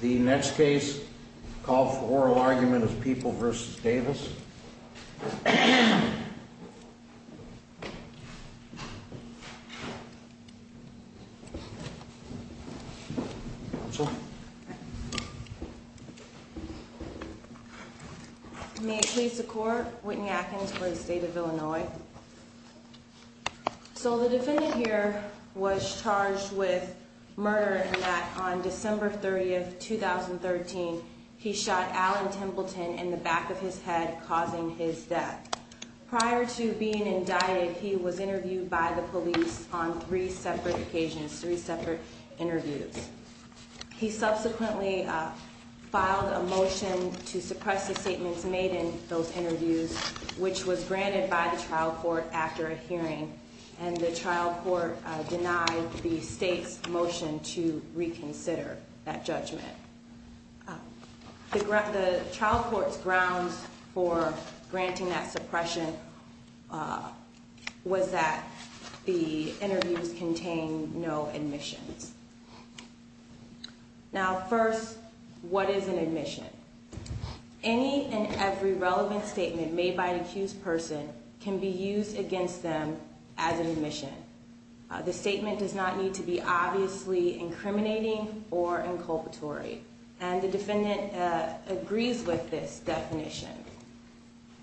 The next case call for oral argument of people versus Davis May it please the court Whitney Atkins for the state of Illinois So the defendant here was charged with murder and that on December 30th, 2013, he shot Alan Templeton in the back of his head, causing his death. Prior to being indicted, he was interviewed by the police on three separate occasions, three separate interviews. He subsequently filed a motion to suppress the statements made in those interviews, which was granted by the trial court after a hearing, and the trial court denied the state's motion to reconsider that judgment. The trial court's grounds for granting that suppression was that the interviews contained no admissions. Now, first, what is an admission? Any and every relevant statement made by an accused person can be used against them as an admission. The statement does not need to be obviously incriminating or inculpatory. And the defendant agrees with this definition.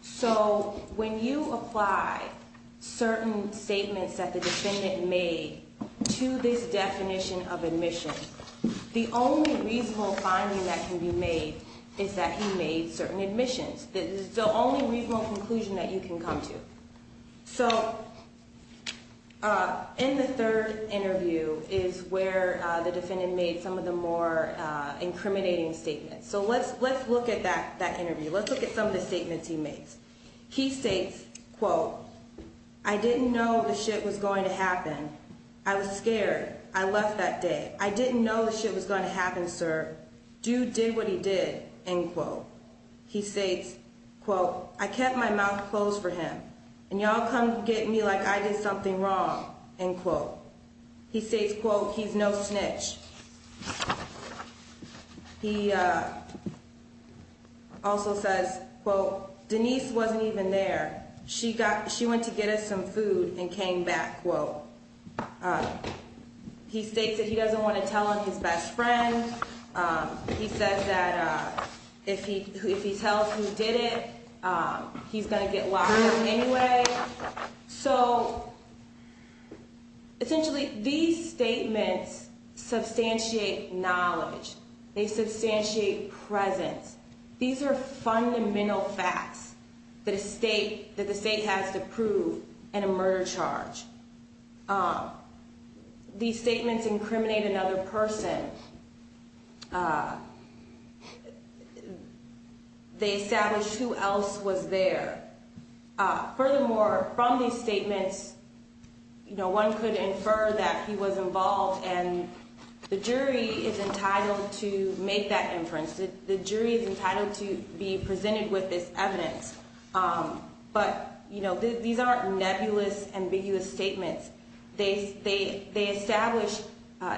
So when you apply certain statements that the defendant made to this definition of admission, the only reasonable finding that can be made is that he made certain admissions. This is the only reasonable conclusion that you can come to. So in the third interview is where the defendant made some of the more incriminating statements. So let's look at that interview. Let's look at some of the statements he made. He states, quote, I didn't know the shit was going to happen. I was scared. I left that day. I didn't know the shit was going to happen, sir. Dude did what he did, end quote. He states, quote, I kept my mouth closed for him. And y'all come get me like I did something wrong, end quote. He states, quote, he's no snitch. He also says, quote, Denise wasn't even there. She went to get us some food and came back, quote. He states that he doesn't want to tell on his best friend. He says that if he tells who did it, he's going to get locked up anyway. So essentially these statements substantiate knowledge. They substantiate presence. These are fundamental facts that the state has to prove in a murder charge. These statements incriminate another person. They establish who else was there. Furthermore, from these statements, you know, one could infer that he was involved and the jury is entitled to make that inference. The jury is entitled to be presented with this evidence. But, you know, these aren't nebulous, ambiguous statements. They establish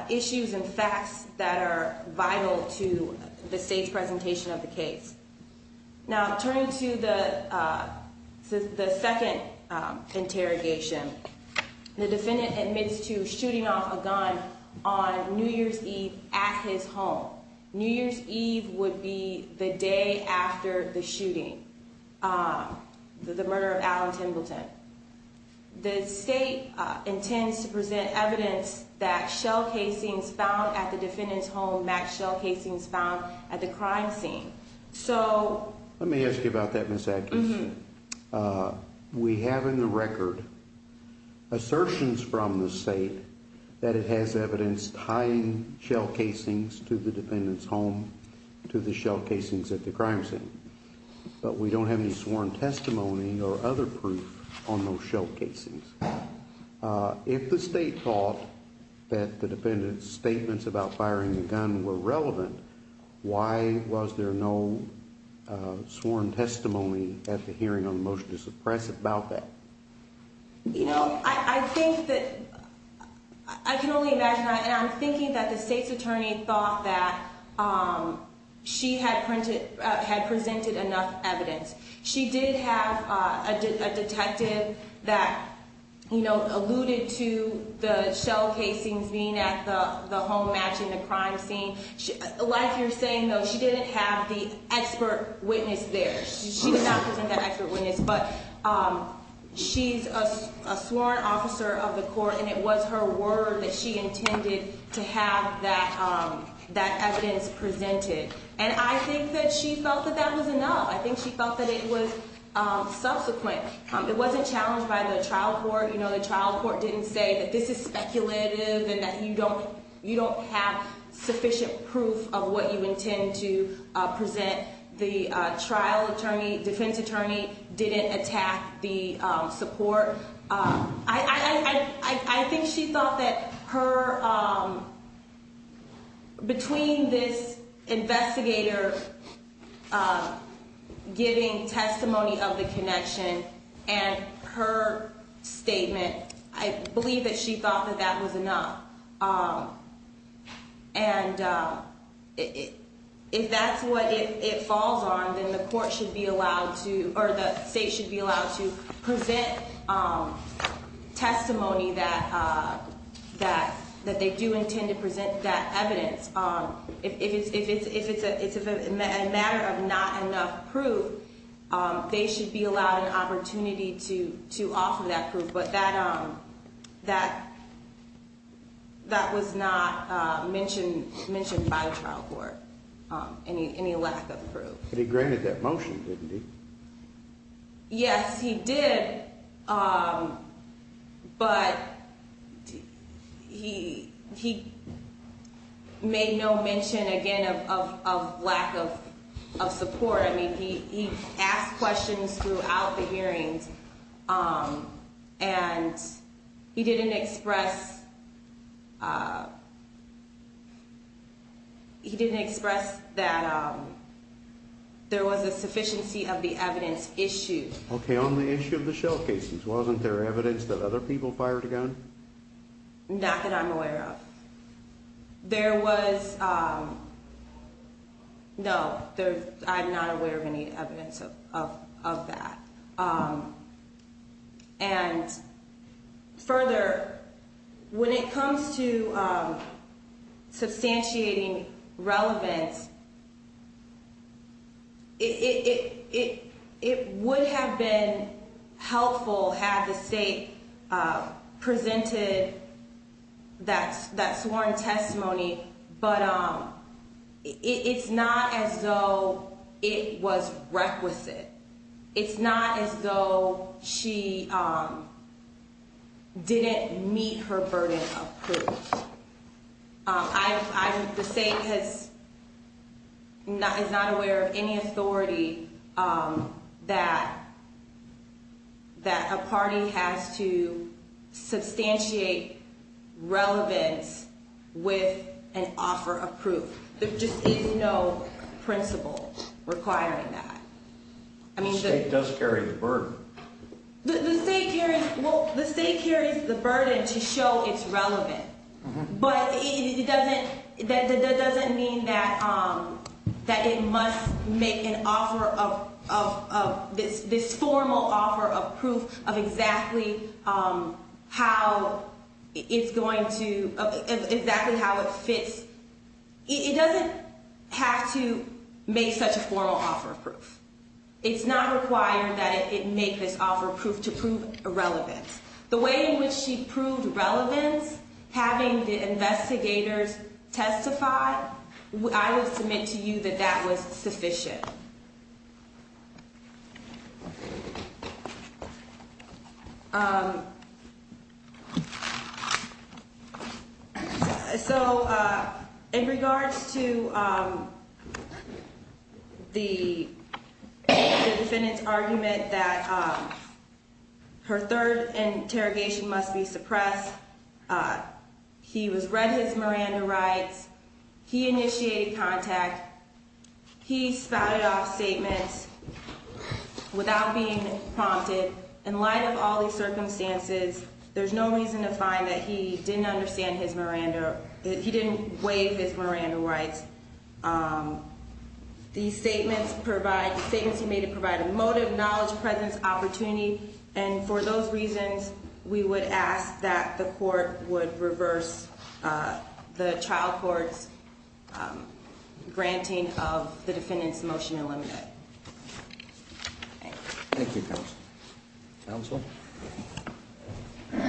issues and facts that are vital to the state's presentation of the case. Now, turning to the second interrogation. The defendant admits to shooting off a gun on New Year's Eve at his home. New Year's Eve would be the day after the shooting, the murder of Allen Templeton. The state intends to present evidence that shell casings found at the defendant's home and match shell casings found at the crime scene. Let me ask you about that, Ms. Adkins. We have in the record assertions from the state that it has evidence tying shell casings to the defendant's home to the shell casings at the crime scene. But we don't have any sworn testimony or other proof on those shell casings. If the state thought that the defendant's statements about firing the gun were relevant, why was there no sworn testimony at the hearing on the motion to suppress about that? You know, I think that, I can only imagine, and I'm thinking that the state's attorney thought that she had presented enough evidence. She did have a detective that, you know, alluded to the shell casings being at the home match in the crime scene. Like you're saying, though, she didn't have the expert witness there. She did not present that expert witness, but she's a sworn officer of the court, and it was her word that she intended to have that evidence presented. And I think that she felt that that was enough. I think she felt that it was subsequent. It wasn't challenged by the trial court. You know, the trial court didn't say that this is speculative and that you don't have sufficient proof of what you intend to present. The trial attorney, defense attorney, didn't attack the support. I think she thought that her, between this investigator giving testimony of the connection and her statement, I believe that she thought that that was enough. And if that's what it falls on, then the court should be allowed to, or the state should be allowed to present testimony that they do intend to present that evidence. If it's a matter of not enough proof, they should be allowed an opportunity to offer that proof. But that was not mentioned by the trial court, any lack of proof. But he granted that motion, didn't he? Yes, he did, but he made no mention, again, of lack of support. I mean, he asked questions throughout the hearings, and he didn't express that there was a sufficiency of the evidence issued. Okay, on the issue of the shell cases, wasn't there evidence that other people fired a gun? Not that I'm aware of. There was, no, I'm not aware of any evidence of that. And further, when it comes to substantiating relevance, it would have been helpful had the state presented that sworn testimony, but it's not as though it was requisite. It's not as though she didn't meet her burden of proof. The state is not aware of any authority that a party has to substantiate relevance with an offer of proof. There just is no principle requiring that. The state does carry the burden. The state carries the burden to show it's relevant. But that doesn't mean that it must make an offer of this formal offer of proof of exactly how it fits. It doesn't have to make such a formal offer of proof. It's not required that it make this offer of proof to prove irrelevance. The way in which she proved relevance, having the investigators testify, I would submit to you that that was sufficient. So, in regards to the defendant's argument that her third interrogation must be suppressed, he was read his Miranda rights. He initiated contact. He spouted off statements without being prompted. In light of all these circumstances, there's no reason to find that he didn't understand his Miranda. He didn't waive his Miranda rights. These statements provide, statements he made to provide a motive, knowledge, presence, opportunity. And for those reasons, we would ask that the court would reverse the child court's granting of the defendant's motion to eliminate. Thank you. Thank you, counsel. May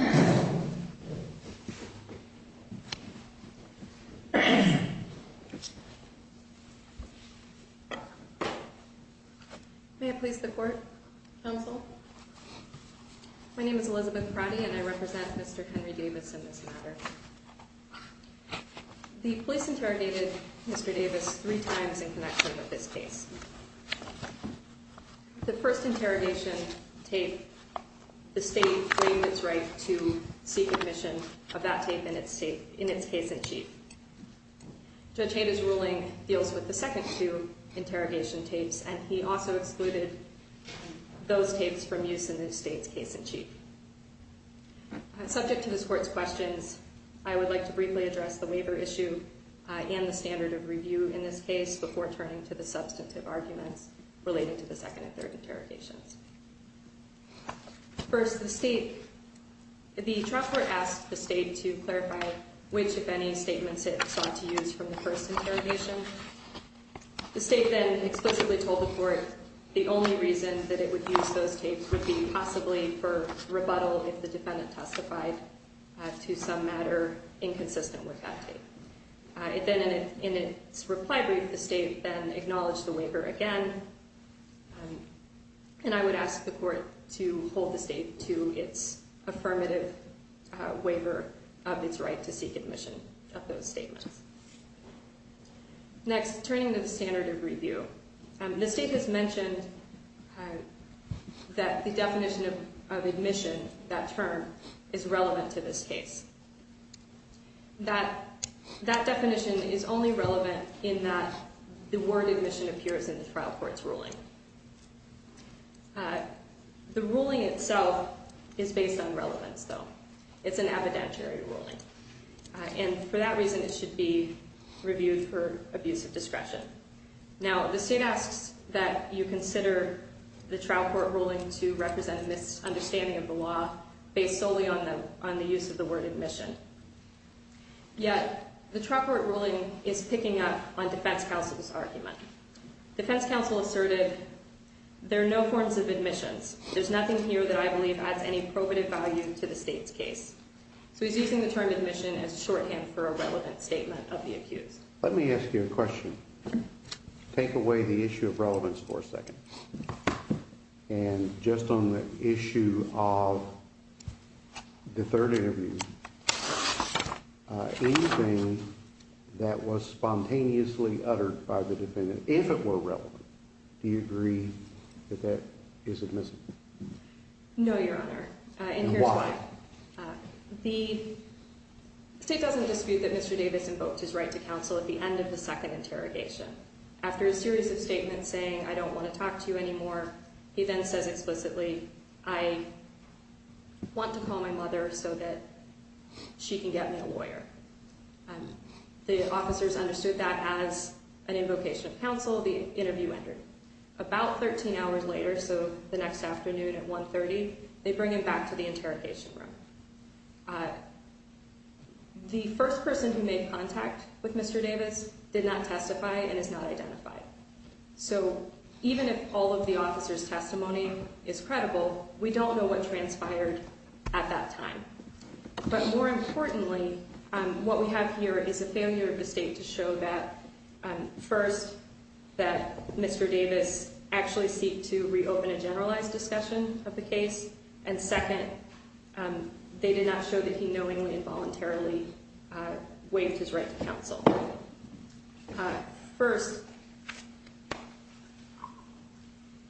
I please the court? Counsel? My name is Elizabeth Pratty and I represent Mr. Henry Davis in this matter. The police interrogated Mr. Davis three times in connection with this case. The first interrogation tape, the state claimed its right to seek admission of that tape in its case in chief. Judge Hader's ruling deals with the second two interrogation tapes and he also excluded those tapes from use in the state's case in chief. Subject to this court's questions, I would like to briefly address the waiver issue and the standard of review in this case before turning to the substantive arguments relating to the second and third interrogations. First, the state, the trial court asked the state to clarify which, if any, statements it sought to use from the first interrogation. The state then explicitly told the court the only reason that it would use those tapes would be possibly for rebuttal if the defendant testified to some matter inconsistent with that tape. It then, in its reply brief, the state then acknowledged the waiver again and I would ask the court to hold the state to its affirmative waiver of its right to seek admission of those statements. Next, turning to the standard of review, the state has mentioned that the definition of admission, that term, is relevant to this case. That definition is only relevant in that the word admission appears in the trial court's ruling. The ruling itself is based on relevance, though. It's an evidentiary ruling. And for that reason, it should be reviewed for abuse of discretion. Now, the state asks that you consider the trial court ruling to represent a misunderstanding of the law based solely on the use of the word admission. Yet, the trial court ruling is picking up on defense counsel's argument. Defense counsel asserted, there are no forms of admissions. There's nothing here that I believe adds any probative value to the state's case. So he's using the term admission as a shorthand for a relevant statement of the accused. Let me ask you a question. And just on the issue of the third interview, anything that was spontaneously uttered by the defendant, if it were relevant, do you agree that that is admissible? No, Your Honor. And why? The state doesn't dispute that Mr. Davis invoked his right to counsel at the end of the second interrogation. After a series of statements saying, I don't want to talk to you anymore, he then says explicitly, I want to call my mother so that she can get me a lawyer. The officers understood that as an invocation of counsel, the interview ended. About 13 hours later, so the next afternoon at 1.30, they bring him back to the interrogation room. The first person who made contact with Mr. Davis did not testify and is not identified. So even if all of the officer's testimony is credible, we don't know what transpired at that time. But more importantly, what we have here is a failure of the state to show that, first, that Mr. Davis actually seeked to reopen a generalized discussion of the case. And second, they did not show that he knowingly and voluntarily waived his right to counsel. First,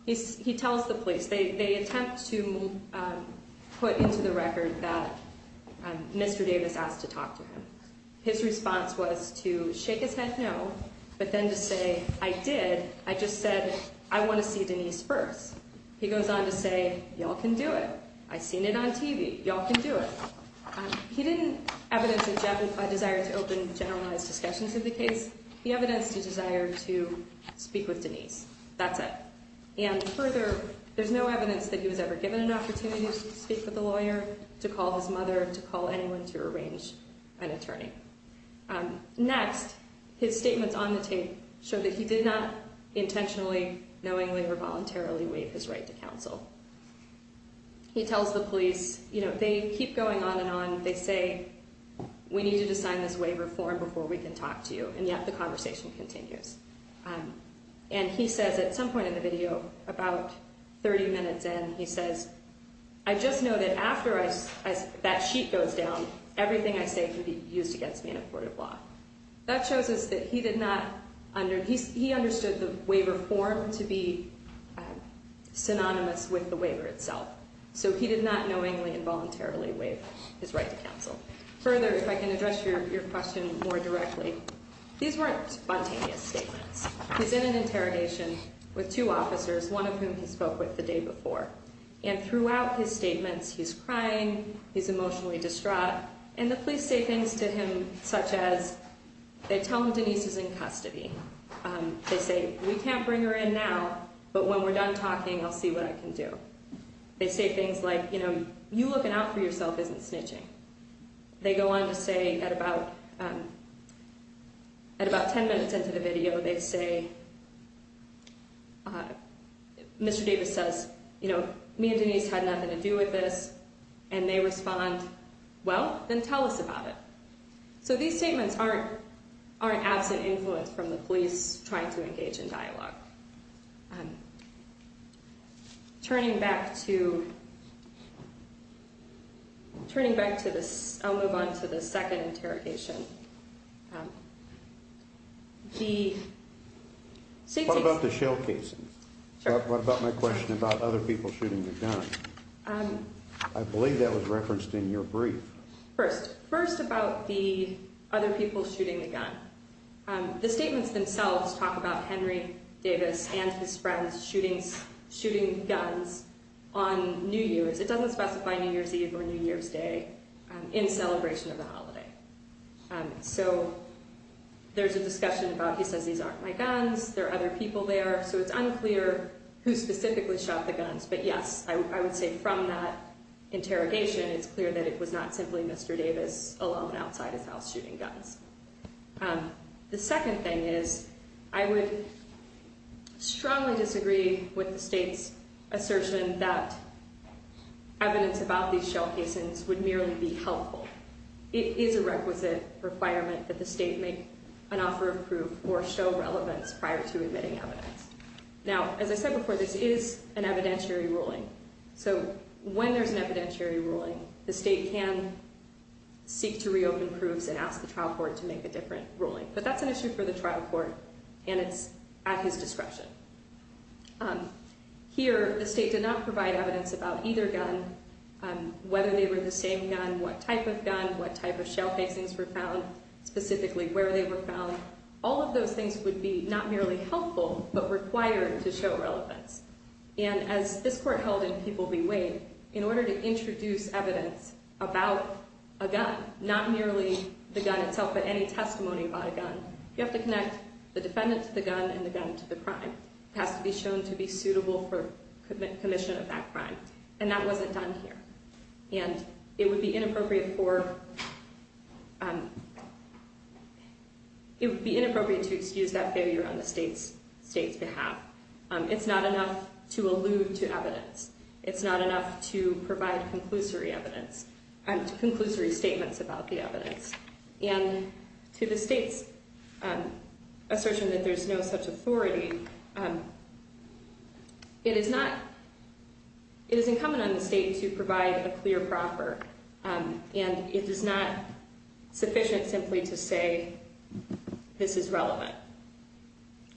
he tells the police, they attempt to put into the record that Mr. Davis asked to talk to him. His response was to shake his head no, but then to say, I did, I just said, I want to see Denise first. He goes on to say, y'all can do it. I've seen it on TV. Y'all can do it. He didn't evidence a desire to open generalized discussions of the case. He evidenced a desire to speak with Denise. That's it. And further, there's no evidence that he was ever given an opportunity to speak with a lawyer, to call his mother, to call anyone to arrange an attorney. Next, his statements on the tape show that he did not intentionally, knowingly, or voluntarily waive his right to counsel. He tells the police, you know, they keep going on and on. They say, we need you to sign this waiver form before we can talk to you. And yet the conversation continues. And he says at some point in the video, about 30 minutes in, he says, I just know that after that sheet goes down, everything I say can be used against me in a court of law. That shows us that he did not, he understood the waiver form to be synonymous with the waiver itself. So he did not knowingly and voluntarily waive his right to counsel. Further, if I can address your question more directly. These weren't spontaneous statements. He's in an interrogation with two officers, one of whom he spoke with the day before. And throughout his statements, he's crying, he's emotionally distraught. And the police say things to him such as, they tell him Denise is in custody. They say, we can't bring her in now, but when we're done talking, I'll see what I can do. They say things like, you know, you looking out for yourself isn't snitching. They go on to say at about 10 minutes into the video, they say, Mr. Davis says, you know, me and Denise had nothing to do with this. And they respond, well, then tell us about it. So these statements aren't absent influence from the police trying to engage in dialogue. Turning back to this, I'll move on to the second interrogation. What about the shell casings? What about my question about other people shooting the gun? I believe that was referenced in your brief. First, first about the other people shooting the gun. The statements themselves talk about Henry Davis and his friends shooting guns on New Year's. It doesn't specify New Year's Eve or New Year's Day in celebration of the holiday. So there's a discussion about, he says, these aren't my guns. There are other people there. So it's unclear who specifically shot the guns. But yes, I would say from that interrogation, it's clear that it was not simply Mr. Davis alone outside his house shooting guns. The second thing is I would strongly disagree with the state's assertion that evidence about these shell casings would merely be helpful. It is a requisite requirement that the state make an offer of proof or show relevance prior to admitting evidence. Now, as I said before, this is an evidentiary ruling. So when there's an evidentiary ruling, the state can seek to reopen proofs and ask the trial court to make a different ruling. But that's an issue for the trial court, and it's at his discretion. Here, the state did not provide evidence about either gun, whether they were the same gun, what type of gun, what type of shell casings were found, specifically where they were found. All of those things would be not merely helpful, but required to show relevance. And as this court held and people bewayed, in order to introduce evidence about a gun, not merely the gun itself, but any testimony about a gun, you have to connect the defendant to the gun and the gun to the crime. It has to be shown to be suitable for commission of that crime, and that wasn't done here. And it would be inappropriate to excuse that failure on the state's behalf. It's not enough to allude to evidence. It's not enough to provide conclusory statements about the evidence. And to the state's assertion that there's no such authority, it is not, it is incumbent on the state to provide a clear proffer. And it is not sufficient simply to say this is relevant.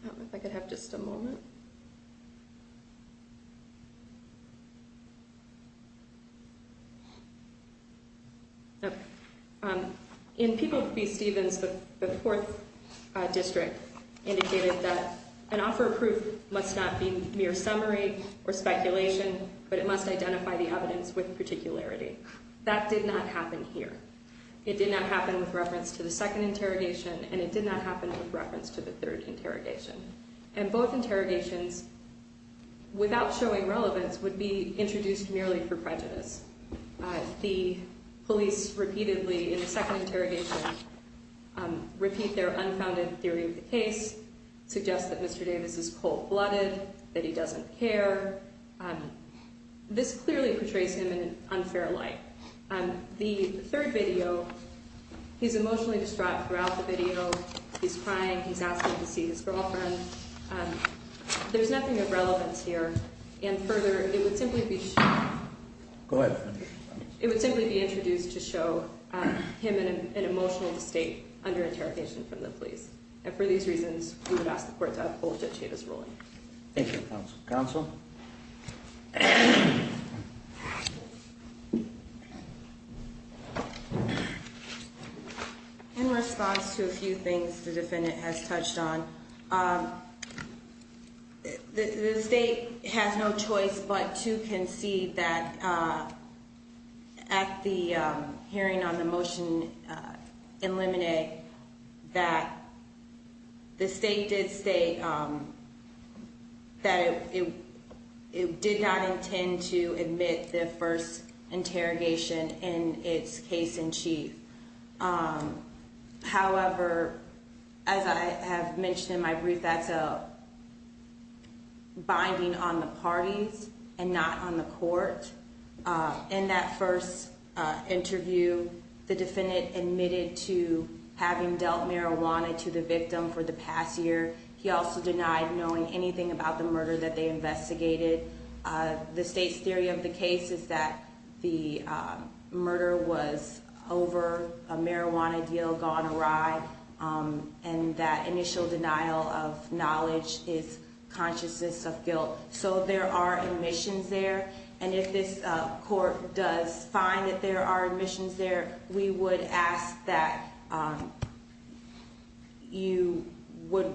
I don't know if I could have just a moment. In People v. Stevens, the fourth district indicated that an offer of proof must not be mere summary or speculation, but it must identify the evidence with particularity. That did not happen here. It did not happen with reference to the second interrogation, and it did not happen with reference to the third interrogation. And both interrogations, without showing relevance, would be introduced merely for prejudice. The police repeatedly, in the second interrogation, repeat their unfounded theory of the case, suggest that Mr. Davis is cold-blooded, that he doesn't care. This clearly portrays him in an unfair light. The third video, he's emotionally distraught throughout the video, he's crying, he's asking to see his girlfriend. There's nothing of relevance here. And further, it would simply be introduced to show him in an emotional state under interrogation from the police. And for these reasons, we would ask the court to uphold Judge Chavis' ruling. Thank you, counsel. Counsel? In response to a few things the defendant has touched on, the state has no choice but to concede that at the hearing on the motion in limine, that the state did state that it did not intend to admit the first interrogation in its case in chief. However, as I have mentioned in my brief, that's a binding on the parties and not on the court. In that first interview, the defendant admitted to having dealt marijuana to the victim for the past year. He also denied knowing anything about the murder that they investigated. The state's theory of the case is that the murder was over, a marijuana deal gone awry, and that initial denial of knowledge is consciousness of guilt. So there are omissions there. And if this court does find that there are omissions there, we would ask that you would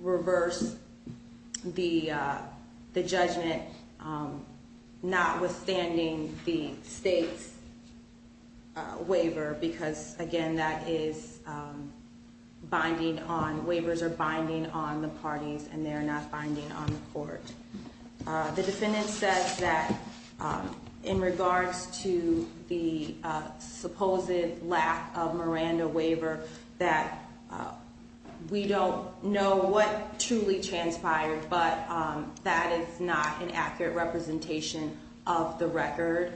reverse the judgment notwithstanding the state's waiver. Because again, that is binding on, waivers are binding on the parties and they're not binding on the court. The defendant says that in regards to the supposed lack of Miranda waiver, that we don't know what truly transpired, but that is not an accurate representation of the record.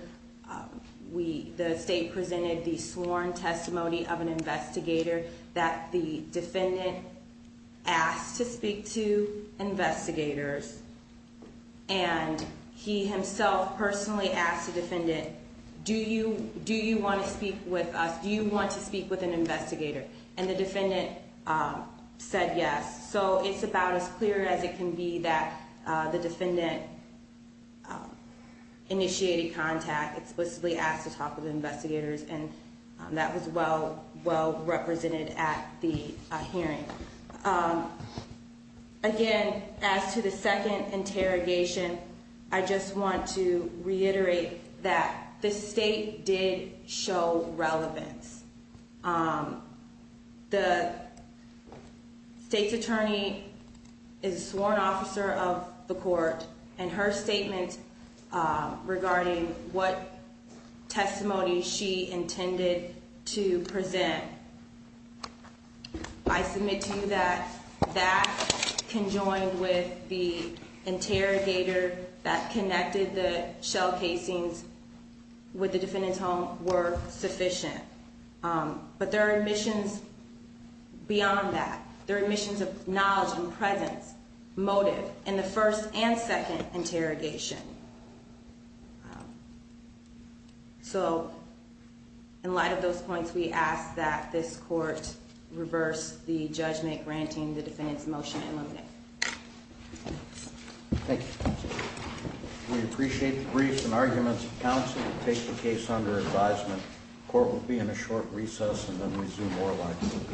The state presented the sworn testimony of an investigator that the defendant asked to speak to investigators. And he himself personally asked the defendant, do you want to speak with us? Do you want to speak with an investigator? And the defendant said yes. So it's about as clear as it can be that the defendant initiated contact, explicitly asked to talk with investigators, and that was well represented at the hearing. Again, as to the second interrogation, I just want to reiterate that the state did show relevance. The state's attorney is a sworn officer of the court, and her statement regarding what testimony she intended to present, I submit to you that that conjoined with the interrogator that connected the shell casings with the defendant's home were sufficient. But there are admissions beyond that. There are admissions of knowledge and presence, motive, in the first and second interrogation. So, in light of those points, we ask that this court reverse the judgment granting the defendant's motion in limine. Thank you. We appreciate the briefs and arguments of counsel to take the case under advisement. Court will be in a short recess and then resume oral argument.